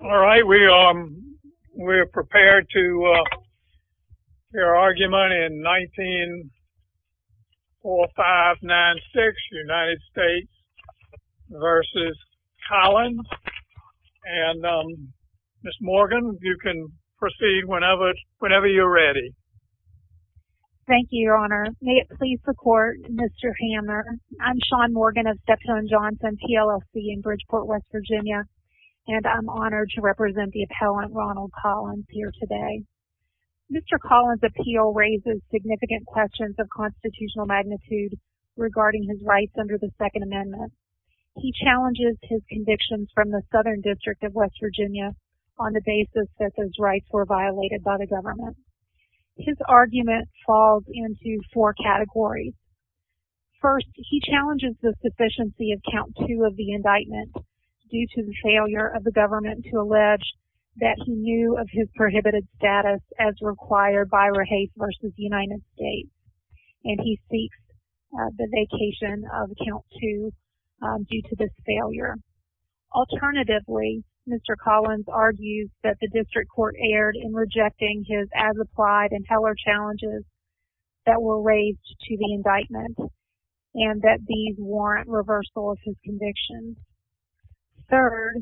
All right, we are prepared to hear argument in 194596, United States v. Collins. And Ms. Morgan, you can proceed whenever you're ready. Thank you, Your Honor. May it please the Court, Mr. Hammer. I'm Shawn Morgan of Dexone Johnson TLSC in Bridgeport, West Virginia. And I'm honored to represent the appellant, Ronald Collins, here today. Mr. Collins' appeal raises significant questions of constitutional magnitude regarding his rights under the Second Amendment. He challenges his convictions from the Southern District of West Virginia on the basis that those rights were violated by the government. His argument falls into four categories. First, he challenges the sufficiency of Count II of the indictment due to the failure of the government to allege that he knew of his prohibited status as required by Rahafe v. United States. And he seeks the vacation of Count II due to this failure. Alternatively, Mr. Collins argues that the district court erred in rejecting his as-applied and heller challenges that were raised to the indictment and that these warrant reversal of his convictions. Third,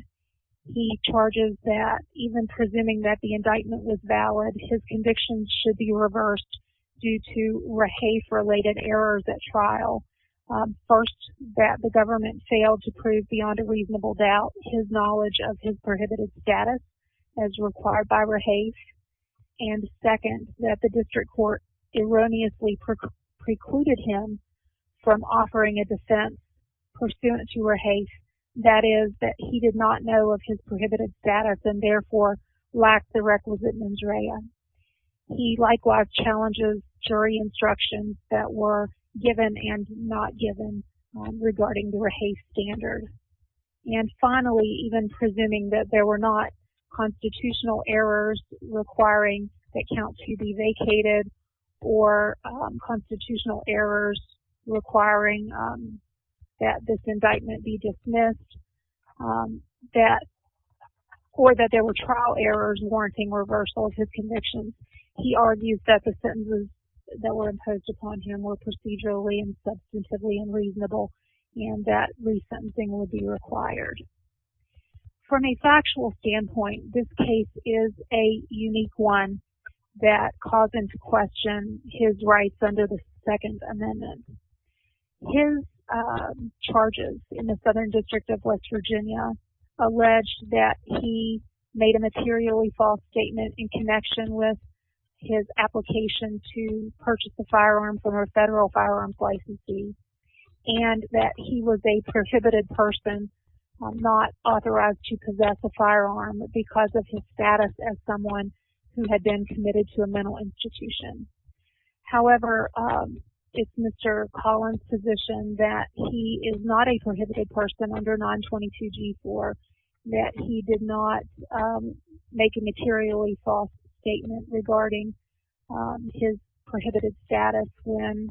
he charges that even presuming that the indictment was valid, his convictions should be reversed due to Rahafe-related errors at trial. First, that the government failed to prove beyond a reasonable doubt his knowledge of his prohibited status as required by Rahafe. And second, that the district court erroneously precluded him from offering a defense pursuant to Rahafe. That is, that he did not know of his prohibited status and therefore lacked the requisite mens rea. He likewise challenges jury instructions that were given and not given regarding the Rahafe standard. And finally, even presuming that there were not constitutional errors requiring that Count II be vacated or constitutional errors requiring that this indictment be dismissed, or that there were trial errors warranting reversal of his convictions, he argues that the sentences that were imposed upon him were procedurally and substantively unreasonable and that resentencing would be required. From a factual standpoint, this case is a unique one that caused him to question his rights under the Second Amendment. His charges in the Southern District of West Virginia allege that he made a materially false statement in connection with his application to purchase a firearm from a federal firearms licensee and that he was a prohibited person, not authorized to possess a firearm because of his status as someone who had been committed to a mental institution. However, it's Mr. Collins' position that he is not a prohibited person under 922G4, that he did not make a materially false statement regarding his prohibited status when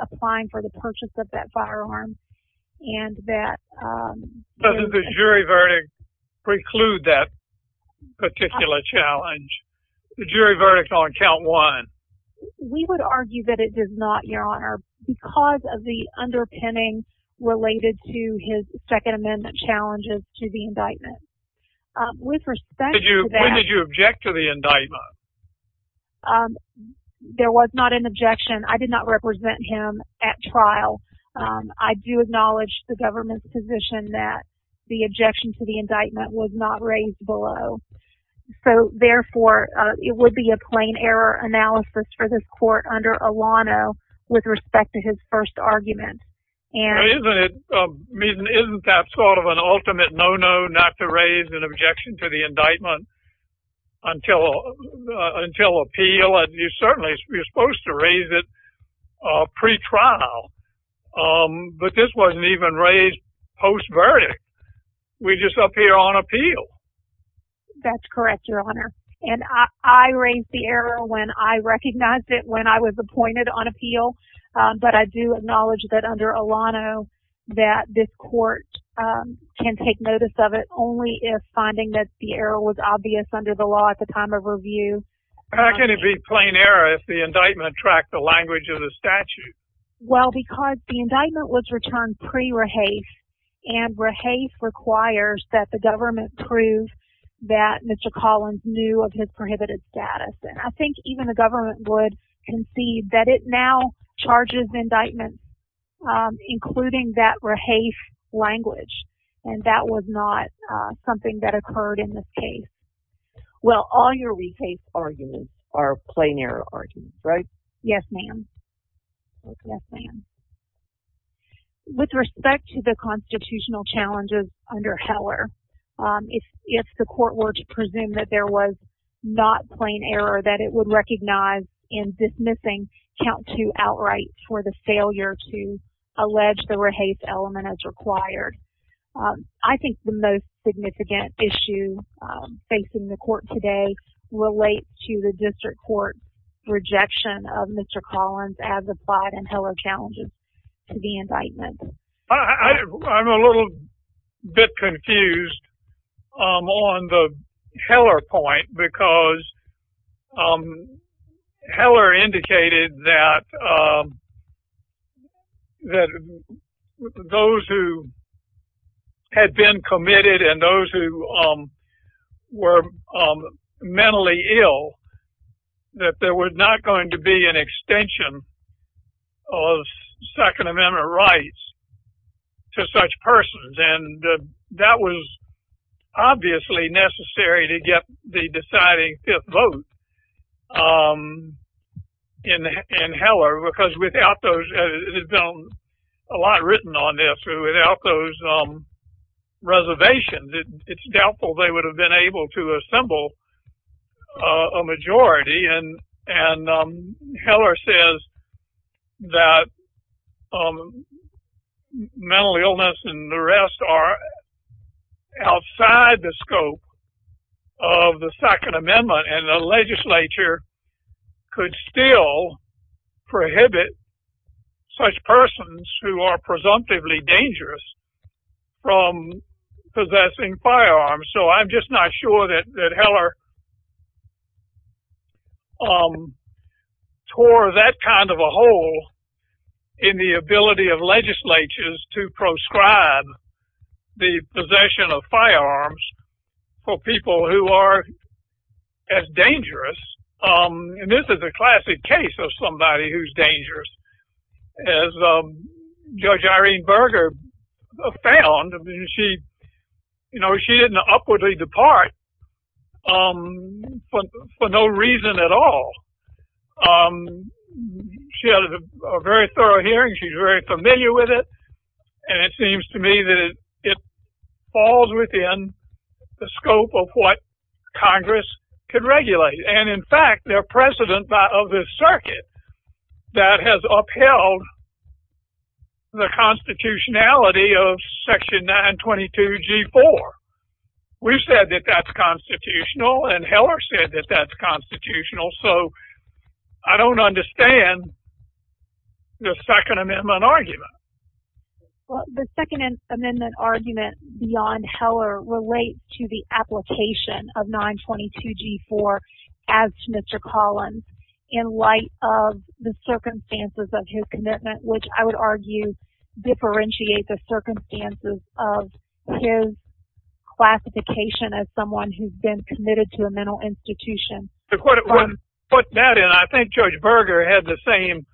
applying for the purchase of that firearm, and that... Does the jury verdict preclude that particular challenge, the jury verdict on Count I? We would argue that it does not, Your Honor, because of the underpinning related to his Second Amendment challenges to the indictment. With respect to that... When did you object to the indictment? There was not an objection. I did not represent him at trial. I do acknowledge the government's position that the objection to the indictment was not raised below. So, therefore, it would be a plain error analysis for this court under Alano with respect to his first argument. Isn't that sort of an ultimate no-no, not to raise an objection to the indictment until appeal? You're certainly supposed to raise it pre-trial, but this wasn't even raised post-verdict. We're just up here on appeal. That's correct, Your Honor. And I raised the error when I recognized it when I was appointed on appeal, but I do acknowledge that under Alano that this court can take notice of it only if finding that the error was obvious under the law at the time of review. How can it be a plain error if the indictment tracked the language of the statute? Well, because the indictment was returned pre-Rehafe, and Rehafe requires that the government prove that Mr. Collins knew of his prohibited status. I think even the government would concede that it now charges indictments including that Rehafe language, and that was not something that occurred in this case. Well, all your Rehafe arguments are plain error arguments, right? Yes, ma'am. With respect to the constitutional challenges under Heller, if the court were to presume that there was not plain error, that it would recognize in dismissing count to outright for the failure to allege the Rehafe element as required. I think the most significant issue facing the court today relates to the district court's rejection of Mr. Collins as applied in Heller challenges to the indictment. I'm a little bit confused on the Heller point because Heller indicated that those who had been committed and those who were mentally ill, that there was not going to be an extension of Second Amendment rights to such persons, and that was obviously necessary to get the deciding fifth vote in Heller, because without those, it had been a lot written on this, but without those reservations, it's doubtful they would have been able to assemble a majority, and Heller says that mental illness and the rest are outside the scope of the Second Amendment, and the legislature could still prohibit such persons who are presumptively dangerous from possessing firearms. So I'm just not sure that Heller tore that kind of a hole in the ability of legislatures to prescribe the possession of firearms for people who are as dangerous. And this is a classic case of somebody who's dangerous. As Judge Irene Berger found, she didn't upwardly depart for no reason at all. She had a very thorough hearing. She's very familiar with it, and it seems to me that it falls within the scope of what Congress could regulate. And in fact, they're president of the circuit that has upheld the constitutionality of Section 922G4. We've said that that's constitutional, and Heller said that that's constitutional, so I don't understand the Second Amendment argument. The Second Amendment argument beyond Heller relates to the application of 922G4 as to Mr. Collins in light of the circumstances of his commitment, which I would argue differentiate the circumstances of his classification as someone who's been committed to a mental institution. To put that in, I think Judge Berger had the same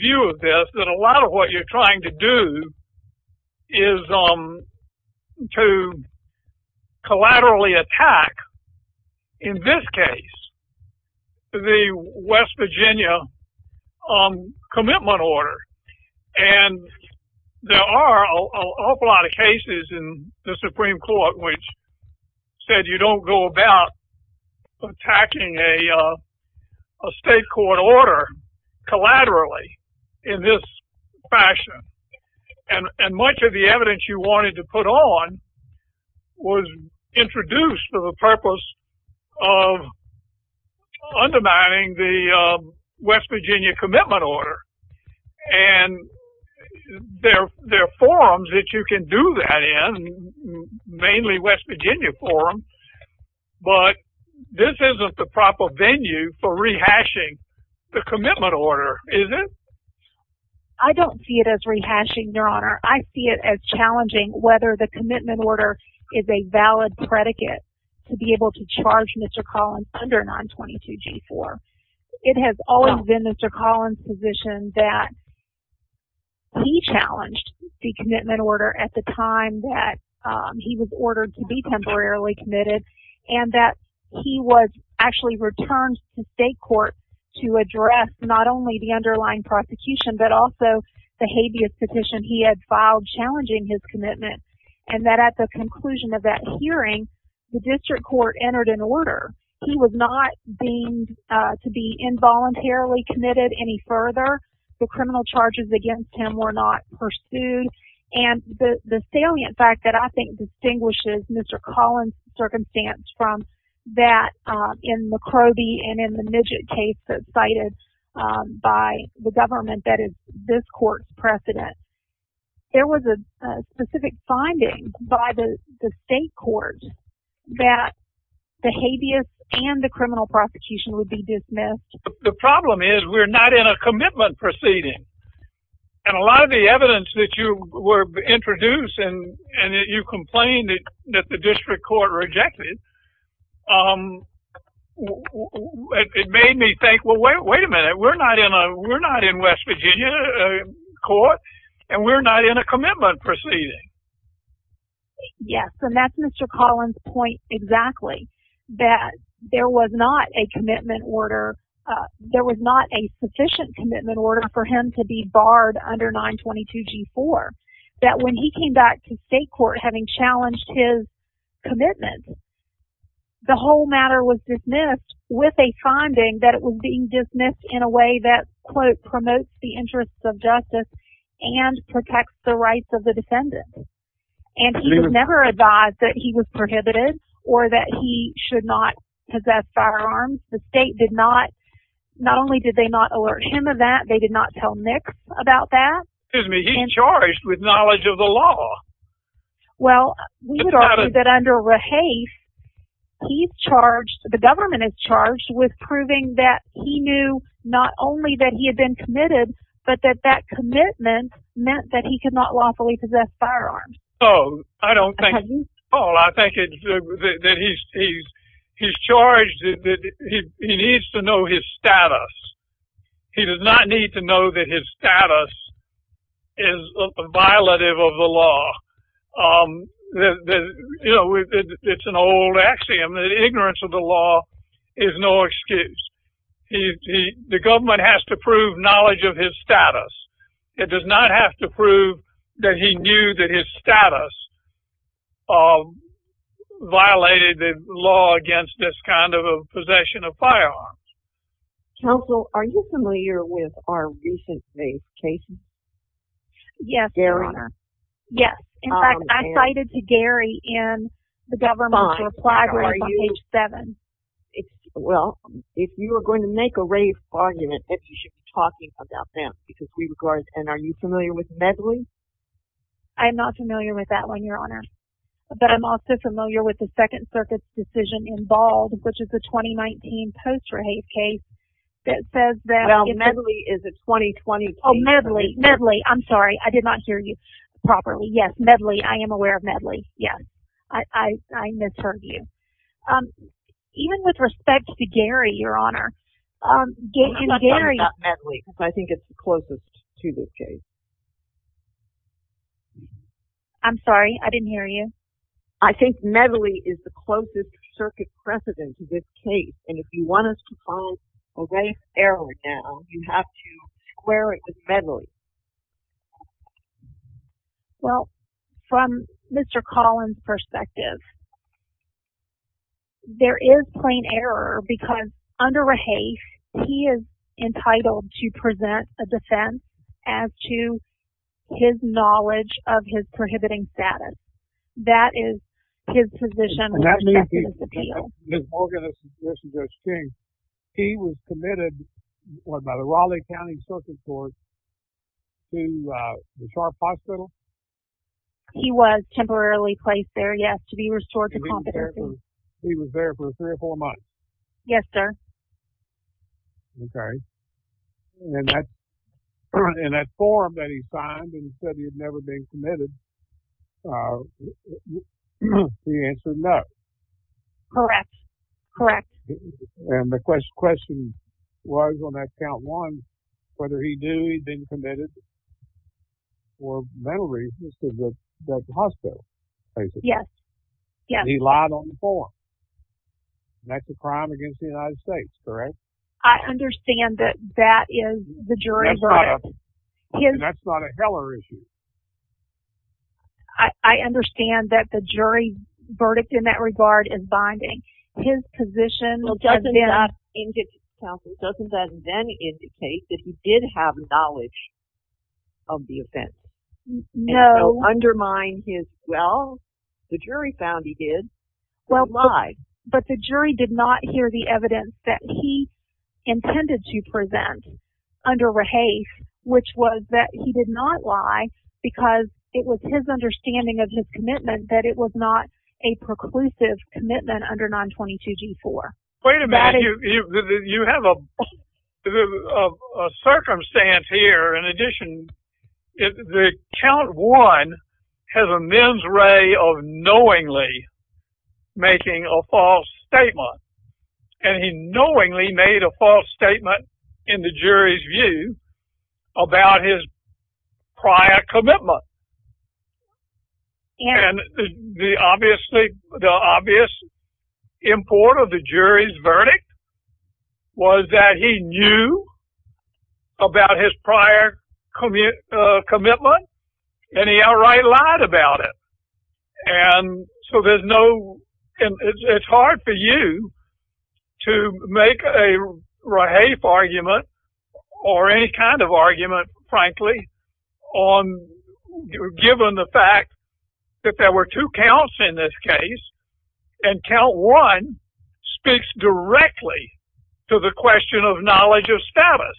view of this, that a lot of what you're trying to do is to collaterally attack, in this case, the West Virginia commitment order. And there are an awful lot of cases in the Supreme Court which said you don't go about attacking a state court order collaterally in this fashion. And much of the evidence you wanted to put on was introduced for the purpose of undermining the West Virginia commitment order. And there are forums that you can do that in, mainly West Virginia forums, but this isn't the proper venue for rehashing the commitment order, is it? I don't see it as rehashing, Your Honor. I see it as challenging whether the commitment order is a valid predicate to be able to charge Mr. Collins under 922G4. It has always been Mr. Collins' position that he challenged the commitment order at the time that he was ordered to be temporarily committed, and that he was actually returned to state court to address not only the underlying prosecution, but also the habeas petition he had filed challenging his commitment, and that at the conclusion of that hearing, the district court entered an order. He was not deemed to be involuntarily committed any further. The criminal charges against him were not pursued. And the salient fact that I think distinguishes Mr. Collins' circumstance from that in the Crowley and in the Midget case that's cited by the government that is this court's precedent, is that there was a specific finding by the state court that the habeas and the criminal prosecution would be dismissed. The problem is we're not in a commitment proceeding. And a lot of the evidence that you were introduced and that you complained that the district court rejected, it made me think, well, wait a minute. We're not in West Virginia court, and we're not in a commitment proceeding. Yes, and that's Mr. Collins' point exactly, that there was not a sufficient commitment order for him to be barred under 922G4. That when he came back to state court having challenged his commitment, the whole matter was dismissed with a finding that it was being dismissed in a way that, quote, promotes the interests of justice and protects the rights of the defendant. And he was never advised that he was prohibited or that he should not possess firearms. The state did not, not only did they not alert him of that, they did not tell Nick about that. Excuse me, he's charged with knowledge of the law. Well, we would argue that under Rahaf, he's charged, the government is charged with proving that he knew not only that he had been committed, but that that commitment meant that he could not lawfully possess firearms. Oh, I don't think, Paul, I think that he's charged that he needs to know his status. He does not need to know that his status is a violative of the law. You know, it's an old axiom that ignorance of the law is no excuse. The government has to prove knowledge of his status. It does not have to prove that he knew that his status violated the law against this kind of possession of firearms. Counsel, are you familiar with our recent case? Yes, Your Honor. Yes, in fact, I cited to Gary in the government's reply to us on page 7. Well, if you are going to make a rave argument, then you should be talking about them. And are you familiar with Medley? I am not familiar with that one, Your Honor. But I'm also familiar with the Second Circuit's decision involved, which is the 2019 Post-Rave case. Well, Medley is a 2020 case. Oh, Medley, Medley, I'm sorry, I did not hear you properly. Yes, Medley, I am aware of Medley. Yes, I misheard you. Even with respect to Gary, Your Honor. I'm not talking about Medley, because I think it's the closest to this case. I'm sorry, I didn't hear you. I think Medley is the closest Circuit precedent to this case. And if you want us to file a rave error now, you have to square it with Medley. Well, from Mr. Collins' perspective, there is plain error. Because under a haste, he is entitled to present a defense as to his knowledge of his prohibiting status. That is his position with respect to this appeal. Ms. Morgan, this is Judge King. He was committed, what, by the Raleigh County Circuit Court to the Sharp Hospital? He was temporarily placed there, yes, to be restored to competency. He was there for three or four months? Yes, sir. Okay. And that forum that he signed and said he had never been committed, the answer is no. Correct, correct. And the question was on that count one, whether he knew he'd been committed for mental reasons to the hospital. Yes, yes. And he lied on the form. And that's a crime against the United States, correct? I understand that that is the jury verdict. That's not a Heller issue. I understand that the jury verdict in that regard is binding. His position doesn't then indicate that he did have knowledge of the offense. No. And so undermine his, well, the jury found he did, he lied. But the jury did not hear the evidence that he intended to present under Rahaf, which was that he did not lie because it was his understanding of his commitment that it was not a preclusive commitment under 922-G4. Wait a minute. You have a circumstance here. In addition, the count one has a men's way of knowingly making a false statement. And he knowingly made a false statement in the jury's view about his prior commitment. And the obvious import of the jury's verdict was that he knew about his prior commitment, and he outright lied about it. And so there's no, it's hard for you to make a Rahaf argument or any kind of argument, frankly, on, given the fact that there were two counts in this case, and count one speaks directly to the question of knowledge of status.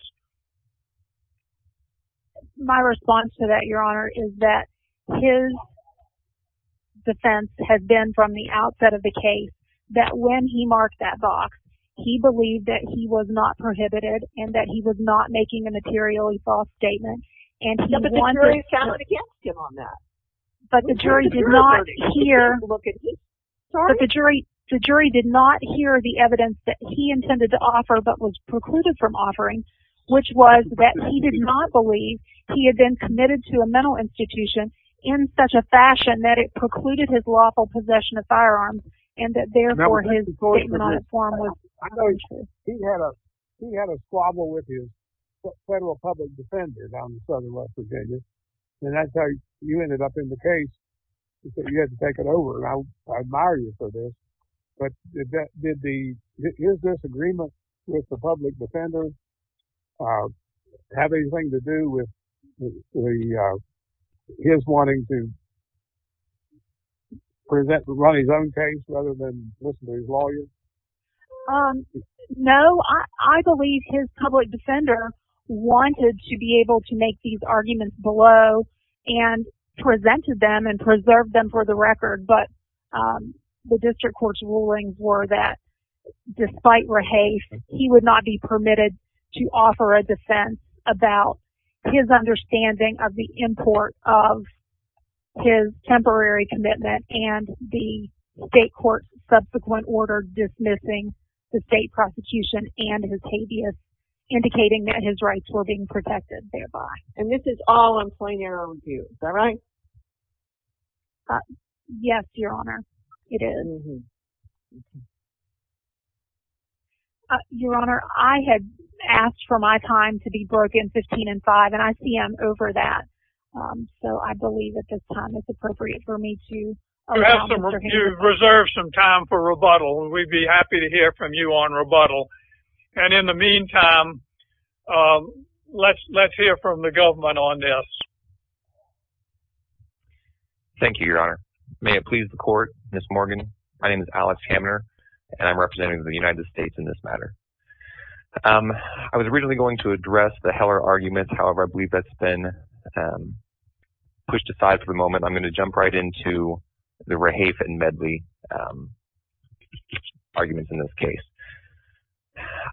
My response to that, Your Honor, is that his defense has been from the outset of the case that when he marked that box, he believed that he was not prohibited and that he was not making a materially false statement. But the jury did not hear the evidence that he intended to offer but was precluded from offering, which was that he did not believe he had been committed to a mental institution in such a fashion that it precluded his lawful possession of firearms and that, therefore, his statement on the farm was not true. I know he had a squabble with his federal public defender down in southern West Virginia, and that's how you ended up in the case. You said you had to take it over, and I admire you for this, but did his disagreement with the public defender have anything to do with his wanting to run his own case rather than listen to his lawyer? No, I believe his public defender wanted to be able to make these arguments below and presented them and preserved them for the record. But the district court's rulings were that despite rehafe, he would not be permitted to offer a defense about his understanding of the import of his temporary commitment and the state court's subsequent order dismissing the state prosecution and his habeas, indicating that his rights were being protected thereby. And this is all in plain error of view, is that right? Yes, Your Honor, it is. Your Honor, I had asked for my time to be broken 15 and 5, and I see I'm over that, so I believe at this time it's appropriate for me to... You've reserved some time for rebuttal, and we'd be happy to hear from you on rebuttal. And in the meantime, let's hear from the government on this. Thank you, Your Honor. May it please the court, Ms. Morgan. My name is Alex Hamner, and I'm representing the United States in this matter. I was originally going to address the Heller argument. However, I believe that's been pushed aside for the moment. I'm going to jump right into the rehafe and Medley arguments in this case.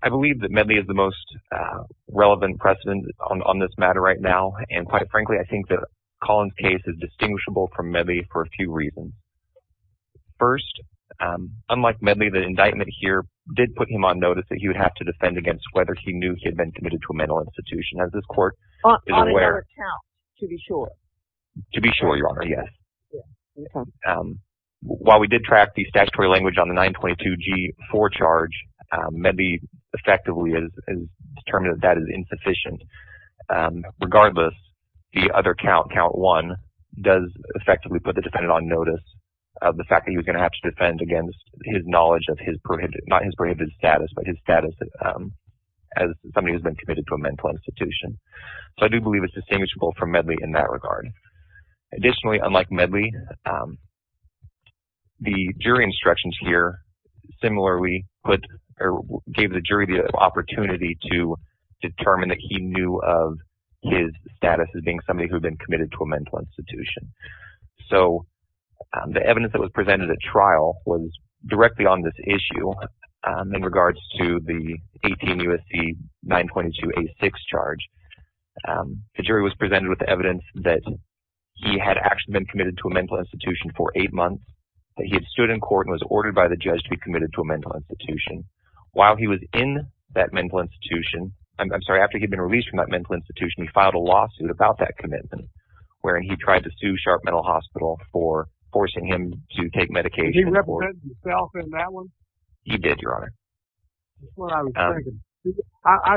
I believe that Medley is the most relevant precedent on this matter right now. And quite frankly, I think that Collin's case is distinguishable from Medley for a few reasons. First, unlike Medley, the indictment here did put him on notice that he would have to defend against whether he knew he had been committed to a mental institution. As this court is aware... On another count, to be sure. To be sure, Your Honor, yes. While we did track the statutory language on the 922G4 charge, Medley effectively has determined that that is insufficient. Regardless, the other count, count one, does effectively put the defendant on notice of the fact that he was going to have to defend against his knowledge of his prohibited... not his prohibited status, but his status as somebody who has been committed to a mental institution. So I do believe it's distinguishable from Medley in that regard. Additionally, unlike Medley, the jury instructions here similarly gave the jury the opportunity to determine that he knew of his status as being somebody who had been committed to a mental institution. So the evidence that was presented at trial was directly on this issue in regards to the 18 U.S.C. 922A6 charge. The jury was presented with the evidence that he had actually been committed to a mental institution for eight months. That he had stood in court and was ordered by the judge to be committed to a mental institution. While he was in that mental institution... I'm sorry, after he had been released from that mental institution, he filed a lawsuit about that commitment. Wherein he tried to sue Sharp Mental Hospital for forcing him to take medication... Did he represent himself in that one? He did, Your Honor. That's what I was thinking. I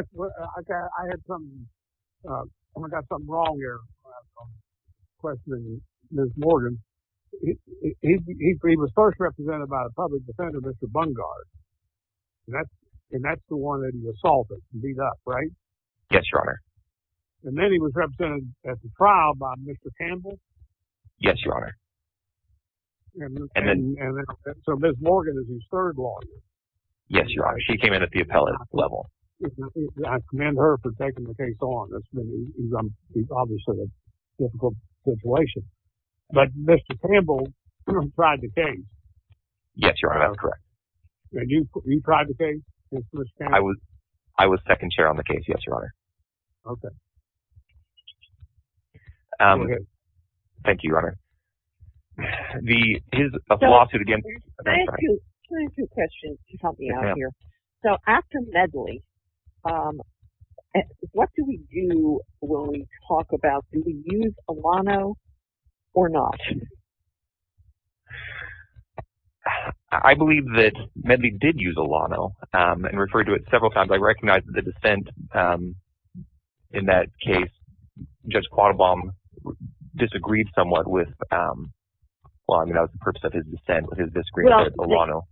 had some... I got something wrong here. I was questioning Ms. Morgan. He was first represented by a public defender, Mr. Bungard. And that's the one that he assaulted and beat up, right? Yes, Your Honor. And then he was represented at the trial by Mr. Campbell? Yes, Your Honor. So Ms. Morgan is his third lawyer? Yes, Your Honor. She came in at the appellate level. I commend her for taking the case on. It's obviously a difficult situation. But Mr. Campbell tried the case? Yes, Your Honor. That's correct. And you tried the case? I was second chair on the case, yes, Your Honor. Okay. Okay. Thank you, Your Honor. His lawsuit again... I have two questions to help me out here. So after Medley, what do we do when we talk about... Do we use Elano or not? I believe that Medley did use Elano and referred to it several times. I recognize the dissent in that case. Judge Quattlebaum disagreed somewhat with... Well, I mean, that was the purpose of his dissent, his disagreement with Elano.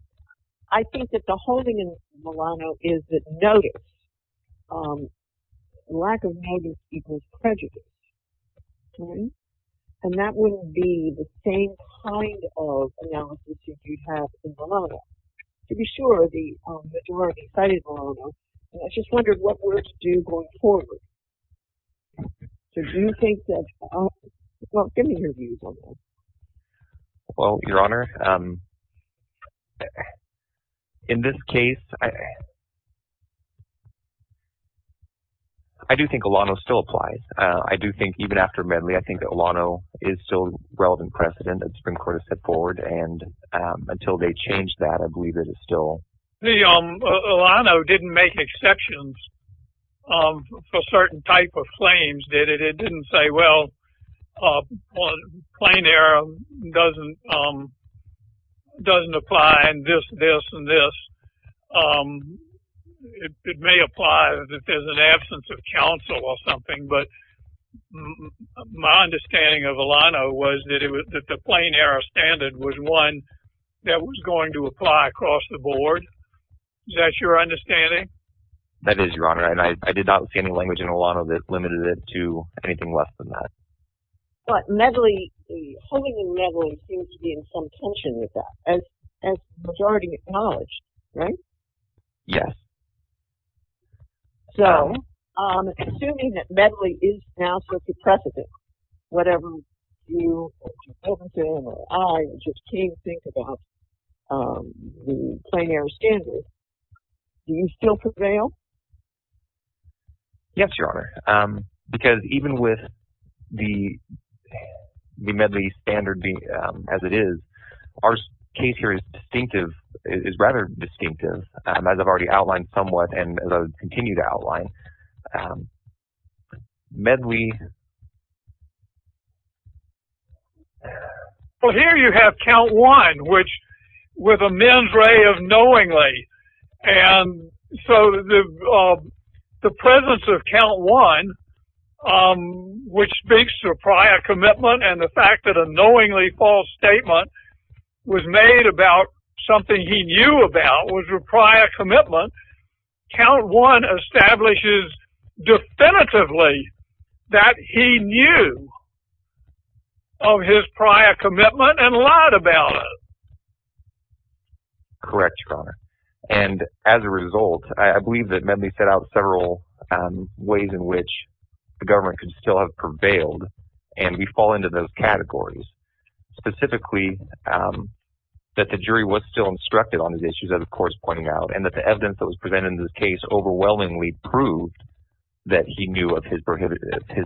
I think that the holding in Elano is that notice. Lack of notice equals prejudice. Okay? And that wouldn't be the same kind of analysis that you'd have in Bolano. To be sure, the majority sided with Elano. And I just wondered what we're to do going forward. So do you think that... Well, give me your views on this. Well, Your Honor, in this case... I do think Elano still applies. I do think even after Medley, I think that Elano is still relevant precedent that the Supreme Court has set forward. And until they change that, I believe it is still... Elano didn't make exceptions for certain type of claims, did it? It didn't say, well, plain error doesn't apply and this, this, and this. It may apply if there's an absence of counsel or something. But my understanding of Elano was that the plain error standard was one that was going to apply across the board. Is that your understanding? That is, Your Honor. And I did not see any language in Elano that limited it to anything less than that. But Medley, holding in Medley seems to be in some tension with that, as the majority acknowledged, right? Yes. So, assuming that Medley is now such a precedent, whatever you or Mr. Wilkinson or I just came to think about the plain error standard, do you still prevail? Yes, Your Honor, because even with the Medley standard as it is, our case here is distinctive, is rather distinctive. As I've already outlined somewhat and as I will continue to outline, Medley... Well, here you have count one, which with a mens rea of knowingly. And so the presence of count one, which speaks to a prior commitment and the fact that a knowingly false statement was made about something he knew about, was a prior commitment, count one establishes definitively that he knew of his prior commitment and lied about it. Correct, Your Honor. And as a result, I believe that Medley set out several ways in which the government could still have prevailed, and we fall into those categories. Specifically, that the jury was still instructed on the issues that the court is pointing out, and that the evidence that was presented in this case overwhelmingly proved that he knew of his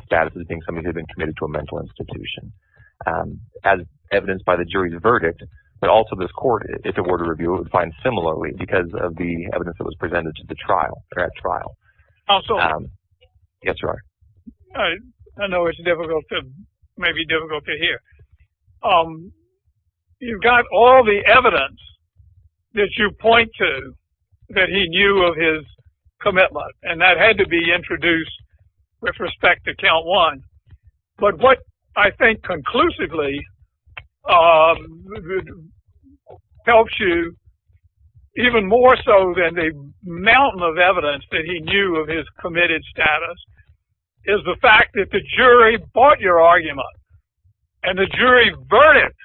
status as being someone who had been committed to a mental institution. As evidenced by the jury's verdict, but also this court, if it were to review it, would find similarly because of the evidence that was presented to the trial. Yes, Your Honor. I know it's difficult, maybe difficult to hear. You've got all the evidence that you point to that he knew of his commitment, and that had to be introduced with respect to count one. But what I think conclusively helps you, even more so than the mountain of evidence that he knew of his committed status, is the fact that the jury bought your argument. And the jury's verdict,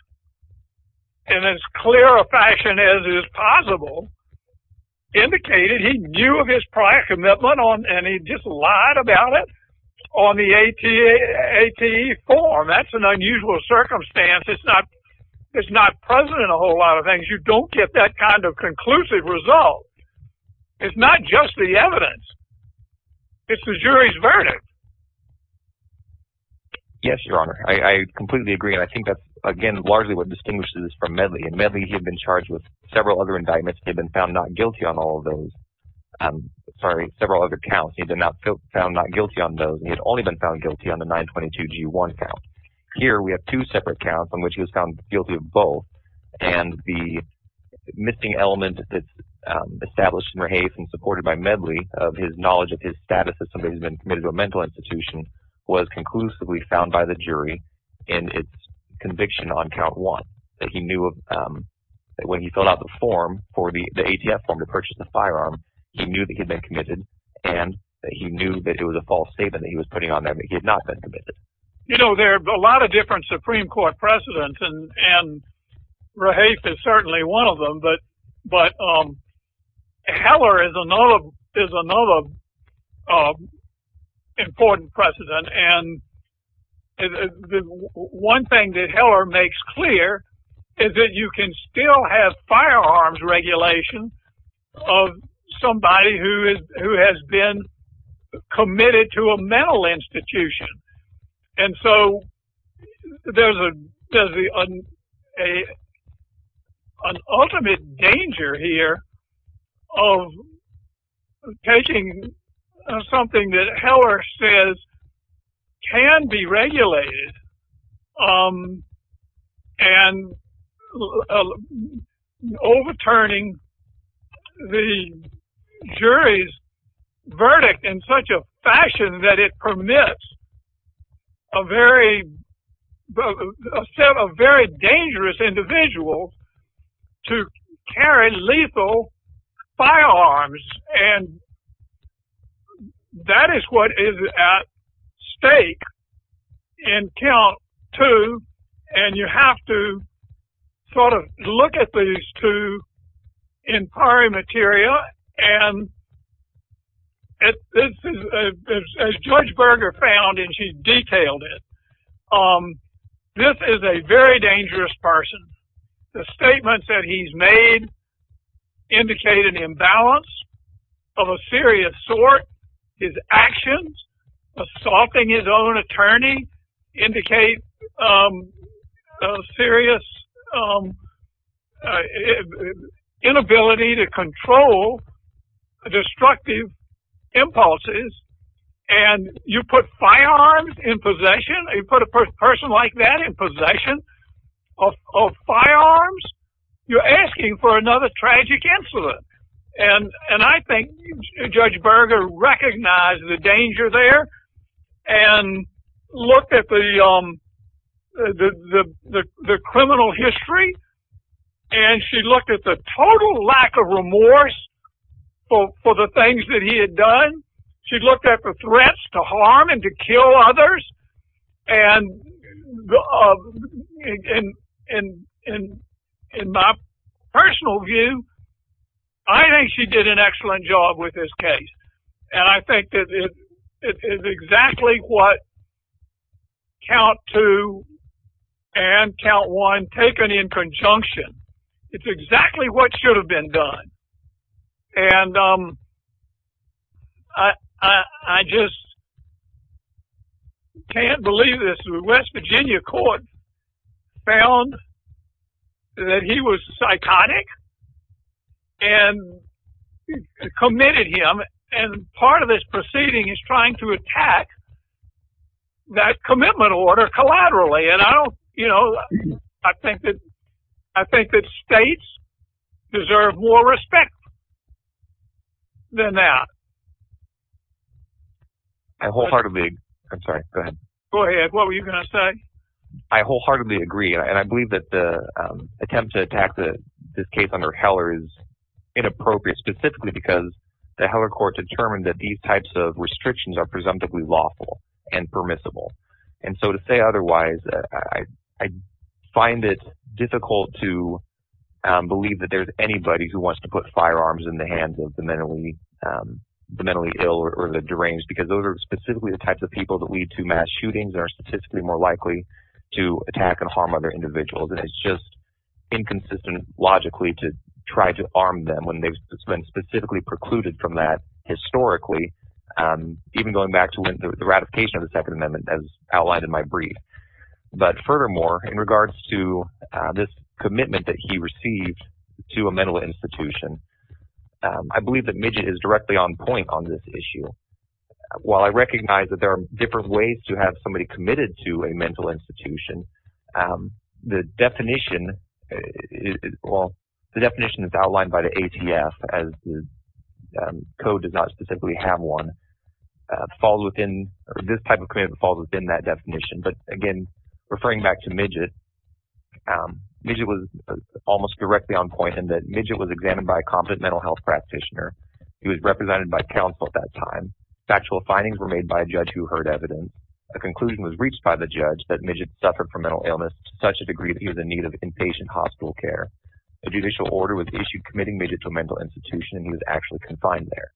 in as clear a fashion as is possible, indicated he knew of his prior commitment, and he just lied about it on the ATE form. That's an unusual circumstance. It's not present in a whole lot of things. You don't get that kind of conclusive result. It's not just the evidence. It's the jury's verdict. Yes, Your Honor. I completely agree, and I think that's, again, largely what distinguishes this from Medley. In Medley, he had been charged with several other indictments. He had been found not guilty on all of those. Sorry, several other counts. He had been found not guilty on those. He had only been found guilty on the 922-G1 count. Here, we have two separate counts on which he was found guilty of both. And the missing element that's established in Raheis and supported by Medley of his knowledge of his status as somebody who's been committed to a mental institution was conclusively found by the jury in its conviction on count one. That he knew of, when he filled out the form for the ATF form to purchase the firearm, he knew that he'd been committed, and he knew that it was a false statement that he was putting on there that he had not been committed. You know, there are a lot of different Supreme Court precedents, and Raheis is certainly one of them, but Heller is another important precedent. And one thing that Heller makes clear is that you can still have firearms regulation of somebody who has been committed to a mental institution. And so there's an ultimate danger here of taking something that Heller says can be regulated and overturning the jury's verdict in such a fashion that it permits a very dangerous individual to carry lethal firearms. And that is what is at stake in count two, and you have to sort of look at these two in prior materia. And as George Berger found, and she detailed it, this is a very dangerous person. The statements that he's made indicate an imbalance of a serious sort. His actions, assaulting his own attorney, indicate a serious inability to control destructive impulses. And you put firearms in possession, you put a person like that in possession of firearms, you're asking for another tragic incident. And I think Judge Berger recognized the danger there and looked at the criminal history, and she looked at the total lack of remorse for the things that he had done. She looked at the threats to harm and to kill others, and in my personal view, I think she did an excellent job with this case. And I think that it is exactly what count two and count one taken in conjunction. It's exactly what should have been done. And I just can't believe this. The West Virginia court found that he was psychotic and committed him, and part of this proceeding is trying to attack that commitment order collaterally. And I don't, you know, I think that states deserve more respect than that. I wholeheartedly, I'm sorry, go ahead. Go ahead, what were you going to say? I wholeheartedly agree, and I believe that the attempt to attack this case under Heller is inappropriate, specifically because the Heller court determined that these types of restrictions are presumptively lawful and permissible. And so to say otherwise, I find it difficult to believe that there's anybody who wants to put firearms in the hands of the mentally ill or the deranged, because those are specifically the types of people that lead to mass shootings and are statistically more likely to attack and harm other individuals. And it's just inconsistent logically to try to arm them when they've been specifically precluded from that historically, even going back to the ratification of the Second Amendment as outlined in my brief. But furthermore, in regards to this commitment that he received to a mental institution, I believe that Midget is directly on point on this issue. While I recognize that there are different ways to have somebody committed to a mental institution, the definition is outlined by the ATF as the code does not specifically have one. This type of commitment falls within that definition, but again, referring back to Midget, Midget was almost directly on point in that Midget was examined by a competent mental health practitioner. He was represented by counsel at that time. Factual findings were made by a judge who heard evidence. The conclusion was reached by the judge that Midget suffered from mental illness to such a degree that he was in need of inpatient hospital care. A judicial order was issued committing Midget to a mental institution and he was actually confined there.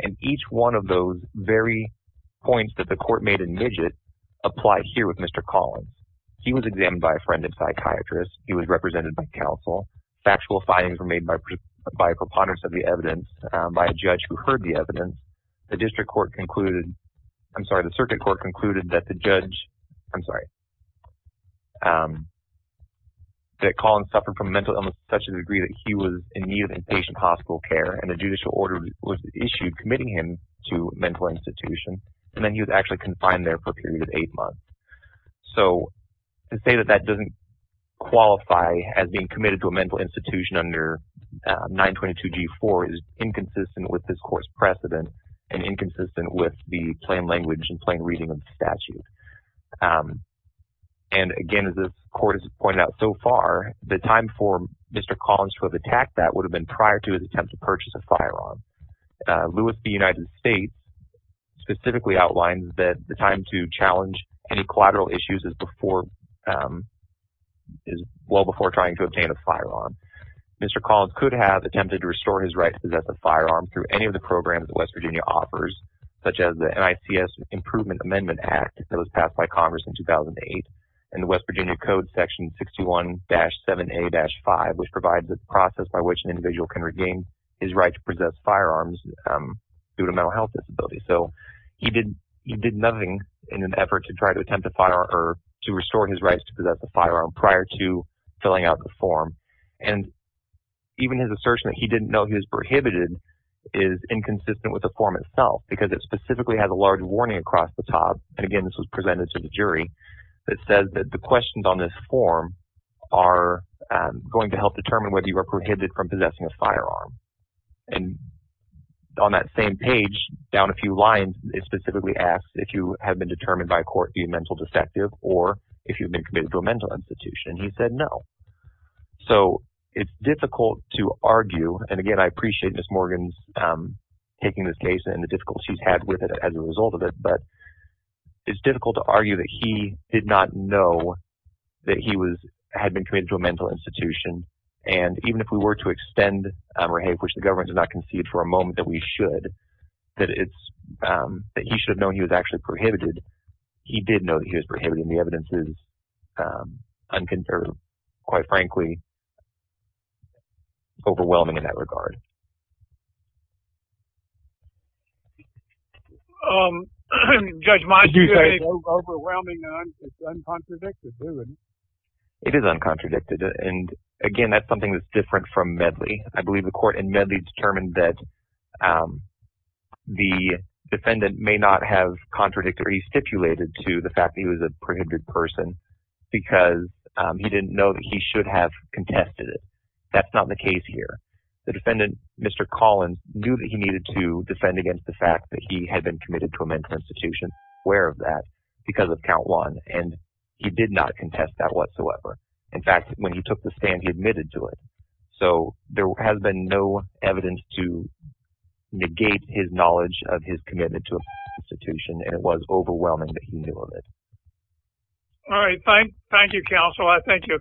And each one of those very points that the court made in Midget apply here with Mr. Collins. He was examined by a friend and psychiatrist. He was represented by counsel. Factual findings were made by a preponderance of the evidence by a judge who heard the evidence. The circuit court concluded that Collins suffered from mental illness to such a degree that he was in need of inpatient hospital care. And a judicial order was issued committing him to a mental institution. And then he was actually confined there for a period of eight months. So, to say that that doesn't qualify as being committed to a mental institution under 922G4 is inconsistent with this court's precedent and inconsistent with the plain language and plain reading of the statute. And again, as the court has pointed out so far, the time for Mr. Collins to have attacked that would have been prior to his attempt to purchase a firearm. Lewis v. United States specifically outlines that the time to challenge any collateral issues is well before trying to obtain a firearm. Mr. Collins could have attempted to restore his right to possess a firearm through any of the programs that West Virginia offers, such as the NICS Improvement Amendment Act that was passed by Congress in 2008, and the West Virginia Code Section 61-7A-5, which provides a process by which an individual can regain his right to possess firearms due to mental health disabilities. So, he did nothing in an effort to try to attempt to restore his rights to possess a firearm prior to filling out the form. And even his assertion that he didn't know he was prohibited is inconsistent with the form itself because it specifically has a large warning across the top. And again, this was presented to the jury that says that the questions on this form are going to help determine whether you are prohibited from possessing a firearm. And on that same page, down a few lines, it specifically asks if you have been determined by court to be a mental defective or if you've been committed to a mental institution. And he said no. So, it's difficult to argue, and again, I appreciate Ms. Morgan's taking this case and the difficulties she's had with it as a result of it. But it's difficult to argue that he did not know that he had been committed to a mental institution. And even if we were to extend Rahab, which the government did not concede for a moment that we should, that he should have known he was actually prohibited, he did know that he was prohibited, and the evidence is unconservative, quite frankly, overwhelming in that regard. Judge Monk, do you have anything to add? It's overwhelming, and it's uncontradicted. It is uncontradicted, and again, that's something that's different from Medley. I believe the court in Medley determined that the defendant may not have contradicted, or he stipulated, to the fact that he was a prohibited person because he didn't know that he should have contested it. That's not the case here. The defendant, Mr. Collins, knew that he needed to defend against the fact that he had been committed to a mental institution, aware of that, because of count one, and he did not contest that whatsoever. In fact, when he took the stand, he admitted to it. So, there has been no evidence to negate his knowledge of his commitment to a mental institution, and it was overwhelming that he knew of it. All right. Thank you, counsel. I think your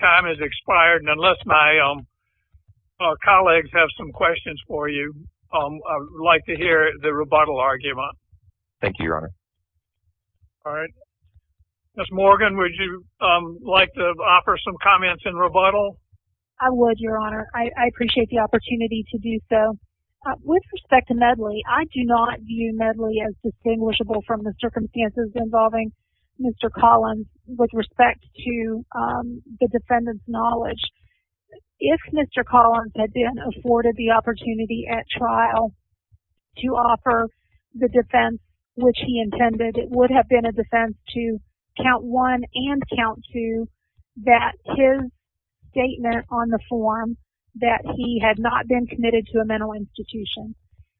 time has expired, and unless my colleagues have some questions for you, I would like to hear the rebuttal argument. Thank you, Your Honor. All right. Ms. Morgan, would you like to offer some comments in rebuttal? I would, Your Honor. I appreciate the opportunity to do so. With respect to Medley, I do not view Medley as distinguishable from the circumstances involving Mr. Collins with respect to the defendant's knowledge. If Mr. Collins had been afforded the opportunity at trial to offer the defense which he intended, it would have been a defense to count one and count two that his statement on the form that he had not been committed to a mental institution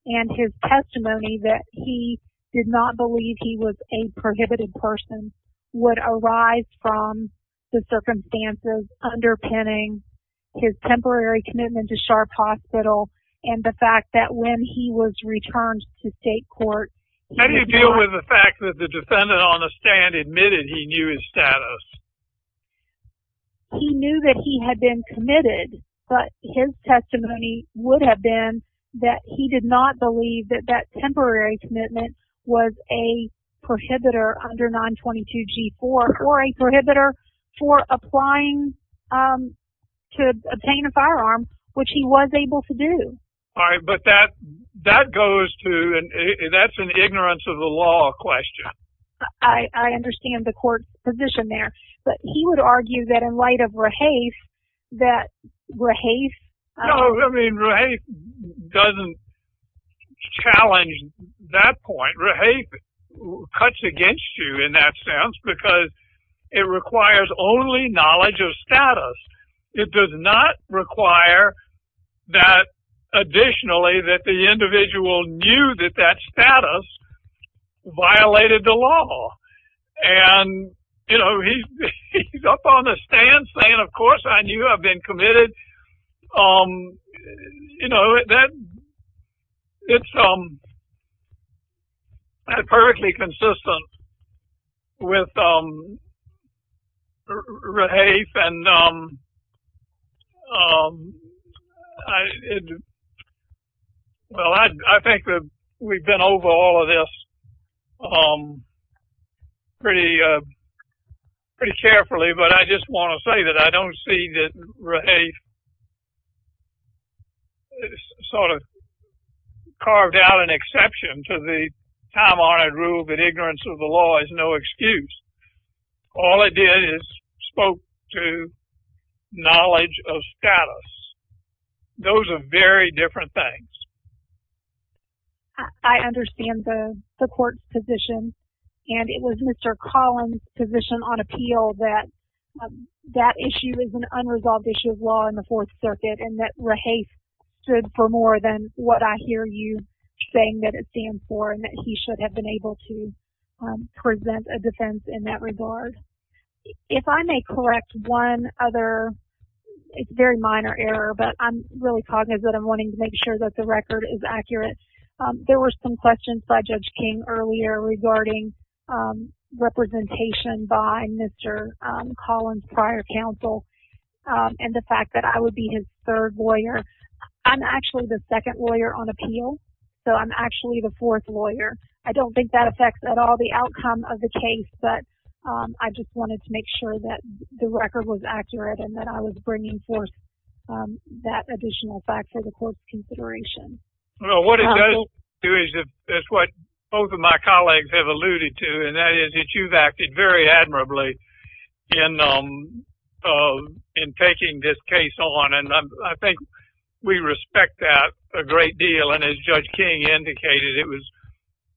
and his testimony that he did not believe he was a prohibited person would arise from the circumstances underpinning his temporary commitment to Sharp Hospital and the fact that when he was returned to state court... How do you deal with the fact that the defendant on the stand admitted he knew his status? He knew that he had been committed, but his testimony would have been that he did not believe that that temporary commitment was a prohibitor under 922G4 or a prohibitor for applying to obtain a firearm, which he was able to do. All right. But that goes to... That's an ignorance of the law question. I understand the court's position there, but he would argue that in light of Rahafe, that Rahafe... No, I mean, Rahafe doesn't challenge that point. Rahafe cuts against you in that sense because it requires only knowledge of status. It does not require that, additionally, that the individual knew that that status violated the law. And, you know, he's up on the stand saying, of course I knew I've been committed. You know, it's perfectly consistent with Rahafe, and I think that we've been over all of this pretty carefully, but I just want to say that I don't see that Rahafe sort of carved out an exception to the time-honored rule that ignorance of the law is no excuse. All it did is spoke to knowledge of status. Those are very different things. I understand the court's position, and it was Mr. Collins' position on appeal that that issue is an unresolved issue of law in the Fourth Circuit, and that Rahafe stood for more than what I hear you saying that it stands for and that he should have been able to present a defense in that regard. If I may correct one other – it's a very minor error, but I'm really cognizant of wanting to make sure that the record is accurate. There were some questions by Judge King earlier regarding representation by Mr. Collins' prior counsel and the fact that I would be his third lawyer. I'm actually the second lawyer on appeal, so I'm actually the fourth lawyer. I don't think that affects at all the outcome of the case, but I just wanted to make sure that the record was accurate and that I was bringing forth that additional fact for the court's consideration. Well, what it does do is – it's what both of my colleagues have alluded to, and that is that you've acted very admirably in taking this case on, and I think we respect that a great deal. And as Judge King indicated, it was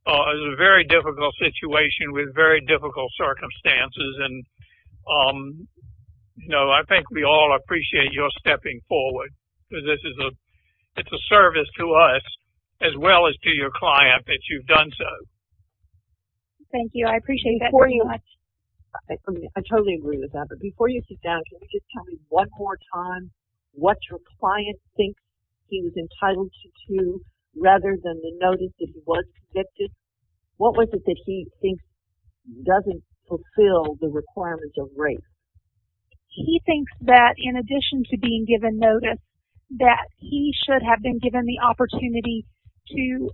a very difficult situation with very difficult circumstances, and I think we all appreciate your stepping forward because it's a service to us as well as to your client that you've done so. Thank you. I appreciate that very much. I totally agree with that, but before you sit down, can you just tell me one more time what your client thinks he was entitled to rather than the notice that he was convicted? What was it that he thinks doesn't fulfill the requirements of rape? He thinks that in addition to being given notice, that he should have been given the opportunity to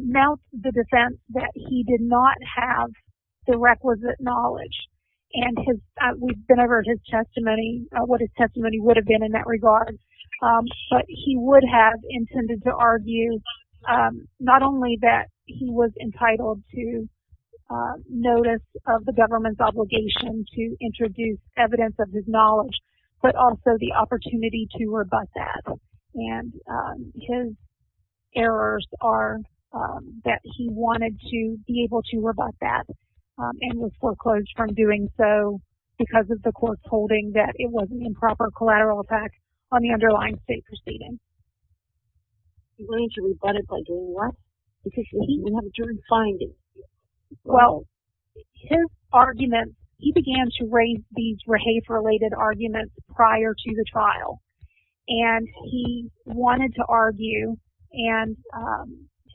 mount the defense that he did not have the requisite knowledge. And we've been over his testimony, what his testimony would have been in that regard, but he would have intended to argue not only that he was entitled to notice of the government's obligation to introduce evidence of his knowledge, but also the opportunity to rebut that. And his errors are that he wanted to be able to rebut that and was foreclosed from doing so because of the court's holding that it was an improper collateral effect on the underlying state proceedings. He wanted to rebut it by doing what? Because he didn't have a jury finding. Well, his argument, he began to raise these rape-related arguments prior to the trial. And he wanted to argue and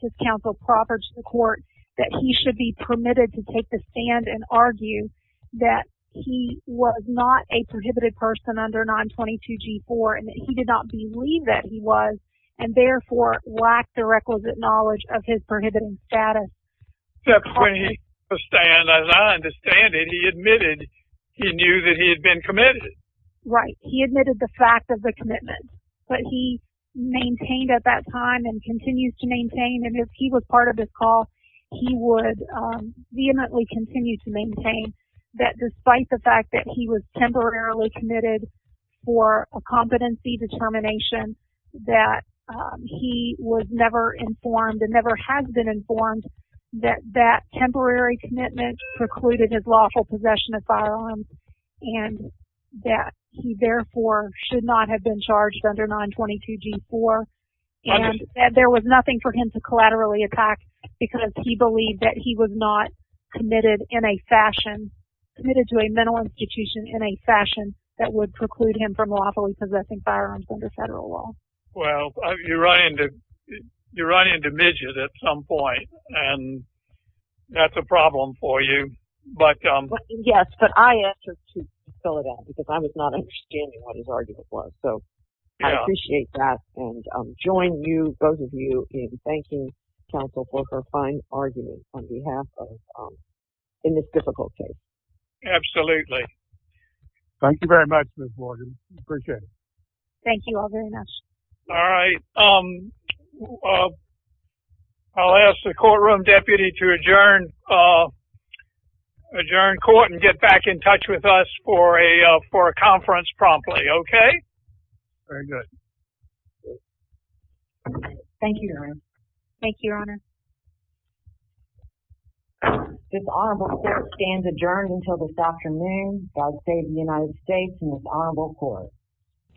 his counsel proffered to the court that he should be permitted to take the stand and argue that he was not a prohibited person under 922G4 and that he did not believe that he was and therefore lacked the requisite knowledge of his prohibited status. Except when he took the stand, as I understand it, he admitted he knew that he had been committed. Right. He admitted the fact of the commitment. But he maintained at that time and continues to maintain, and if he was part of this call, he would vehemently continue to maintain that despite the fact that he was temporarily committed for a competency determination, that he was never informed and never has been informed that that temporary commitment precluded his lawful possession of firearms and that he therefore should not have been charged under 922G4. And that there was nothing for him to collaterally attack because he believed that he was not committed in a fashion, committed to a mental institution in a fashion that would preclude him from lawfully possessing firearms under federal law. Well, you run into midget at some point and that's a problem for you. Yes, but I answered to fill it out because I was not understanding what his argument was. So I appreciate that and join you, both of you, in thanking counsel for her fine argument on behalf of, in this difficult case. Absolutely. Thank you very much, Ms. Morgan. Appreciate it. Thank you all very much. All right. I'll ask the courtroom deputy to adjourn court and get back in touch with us for a conference promptly. Okay. Very good. Thank you, Your Honor. Thank you, Your Honor. This honorable court stands adjourned until this afternoon. God save the United States and this honorable court.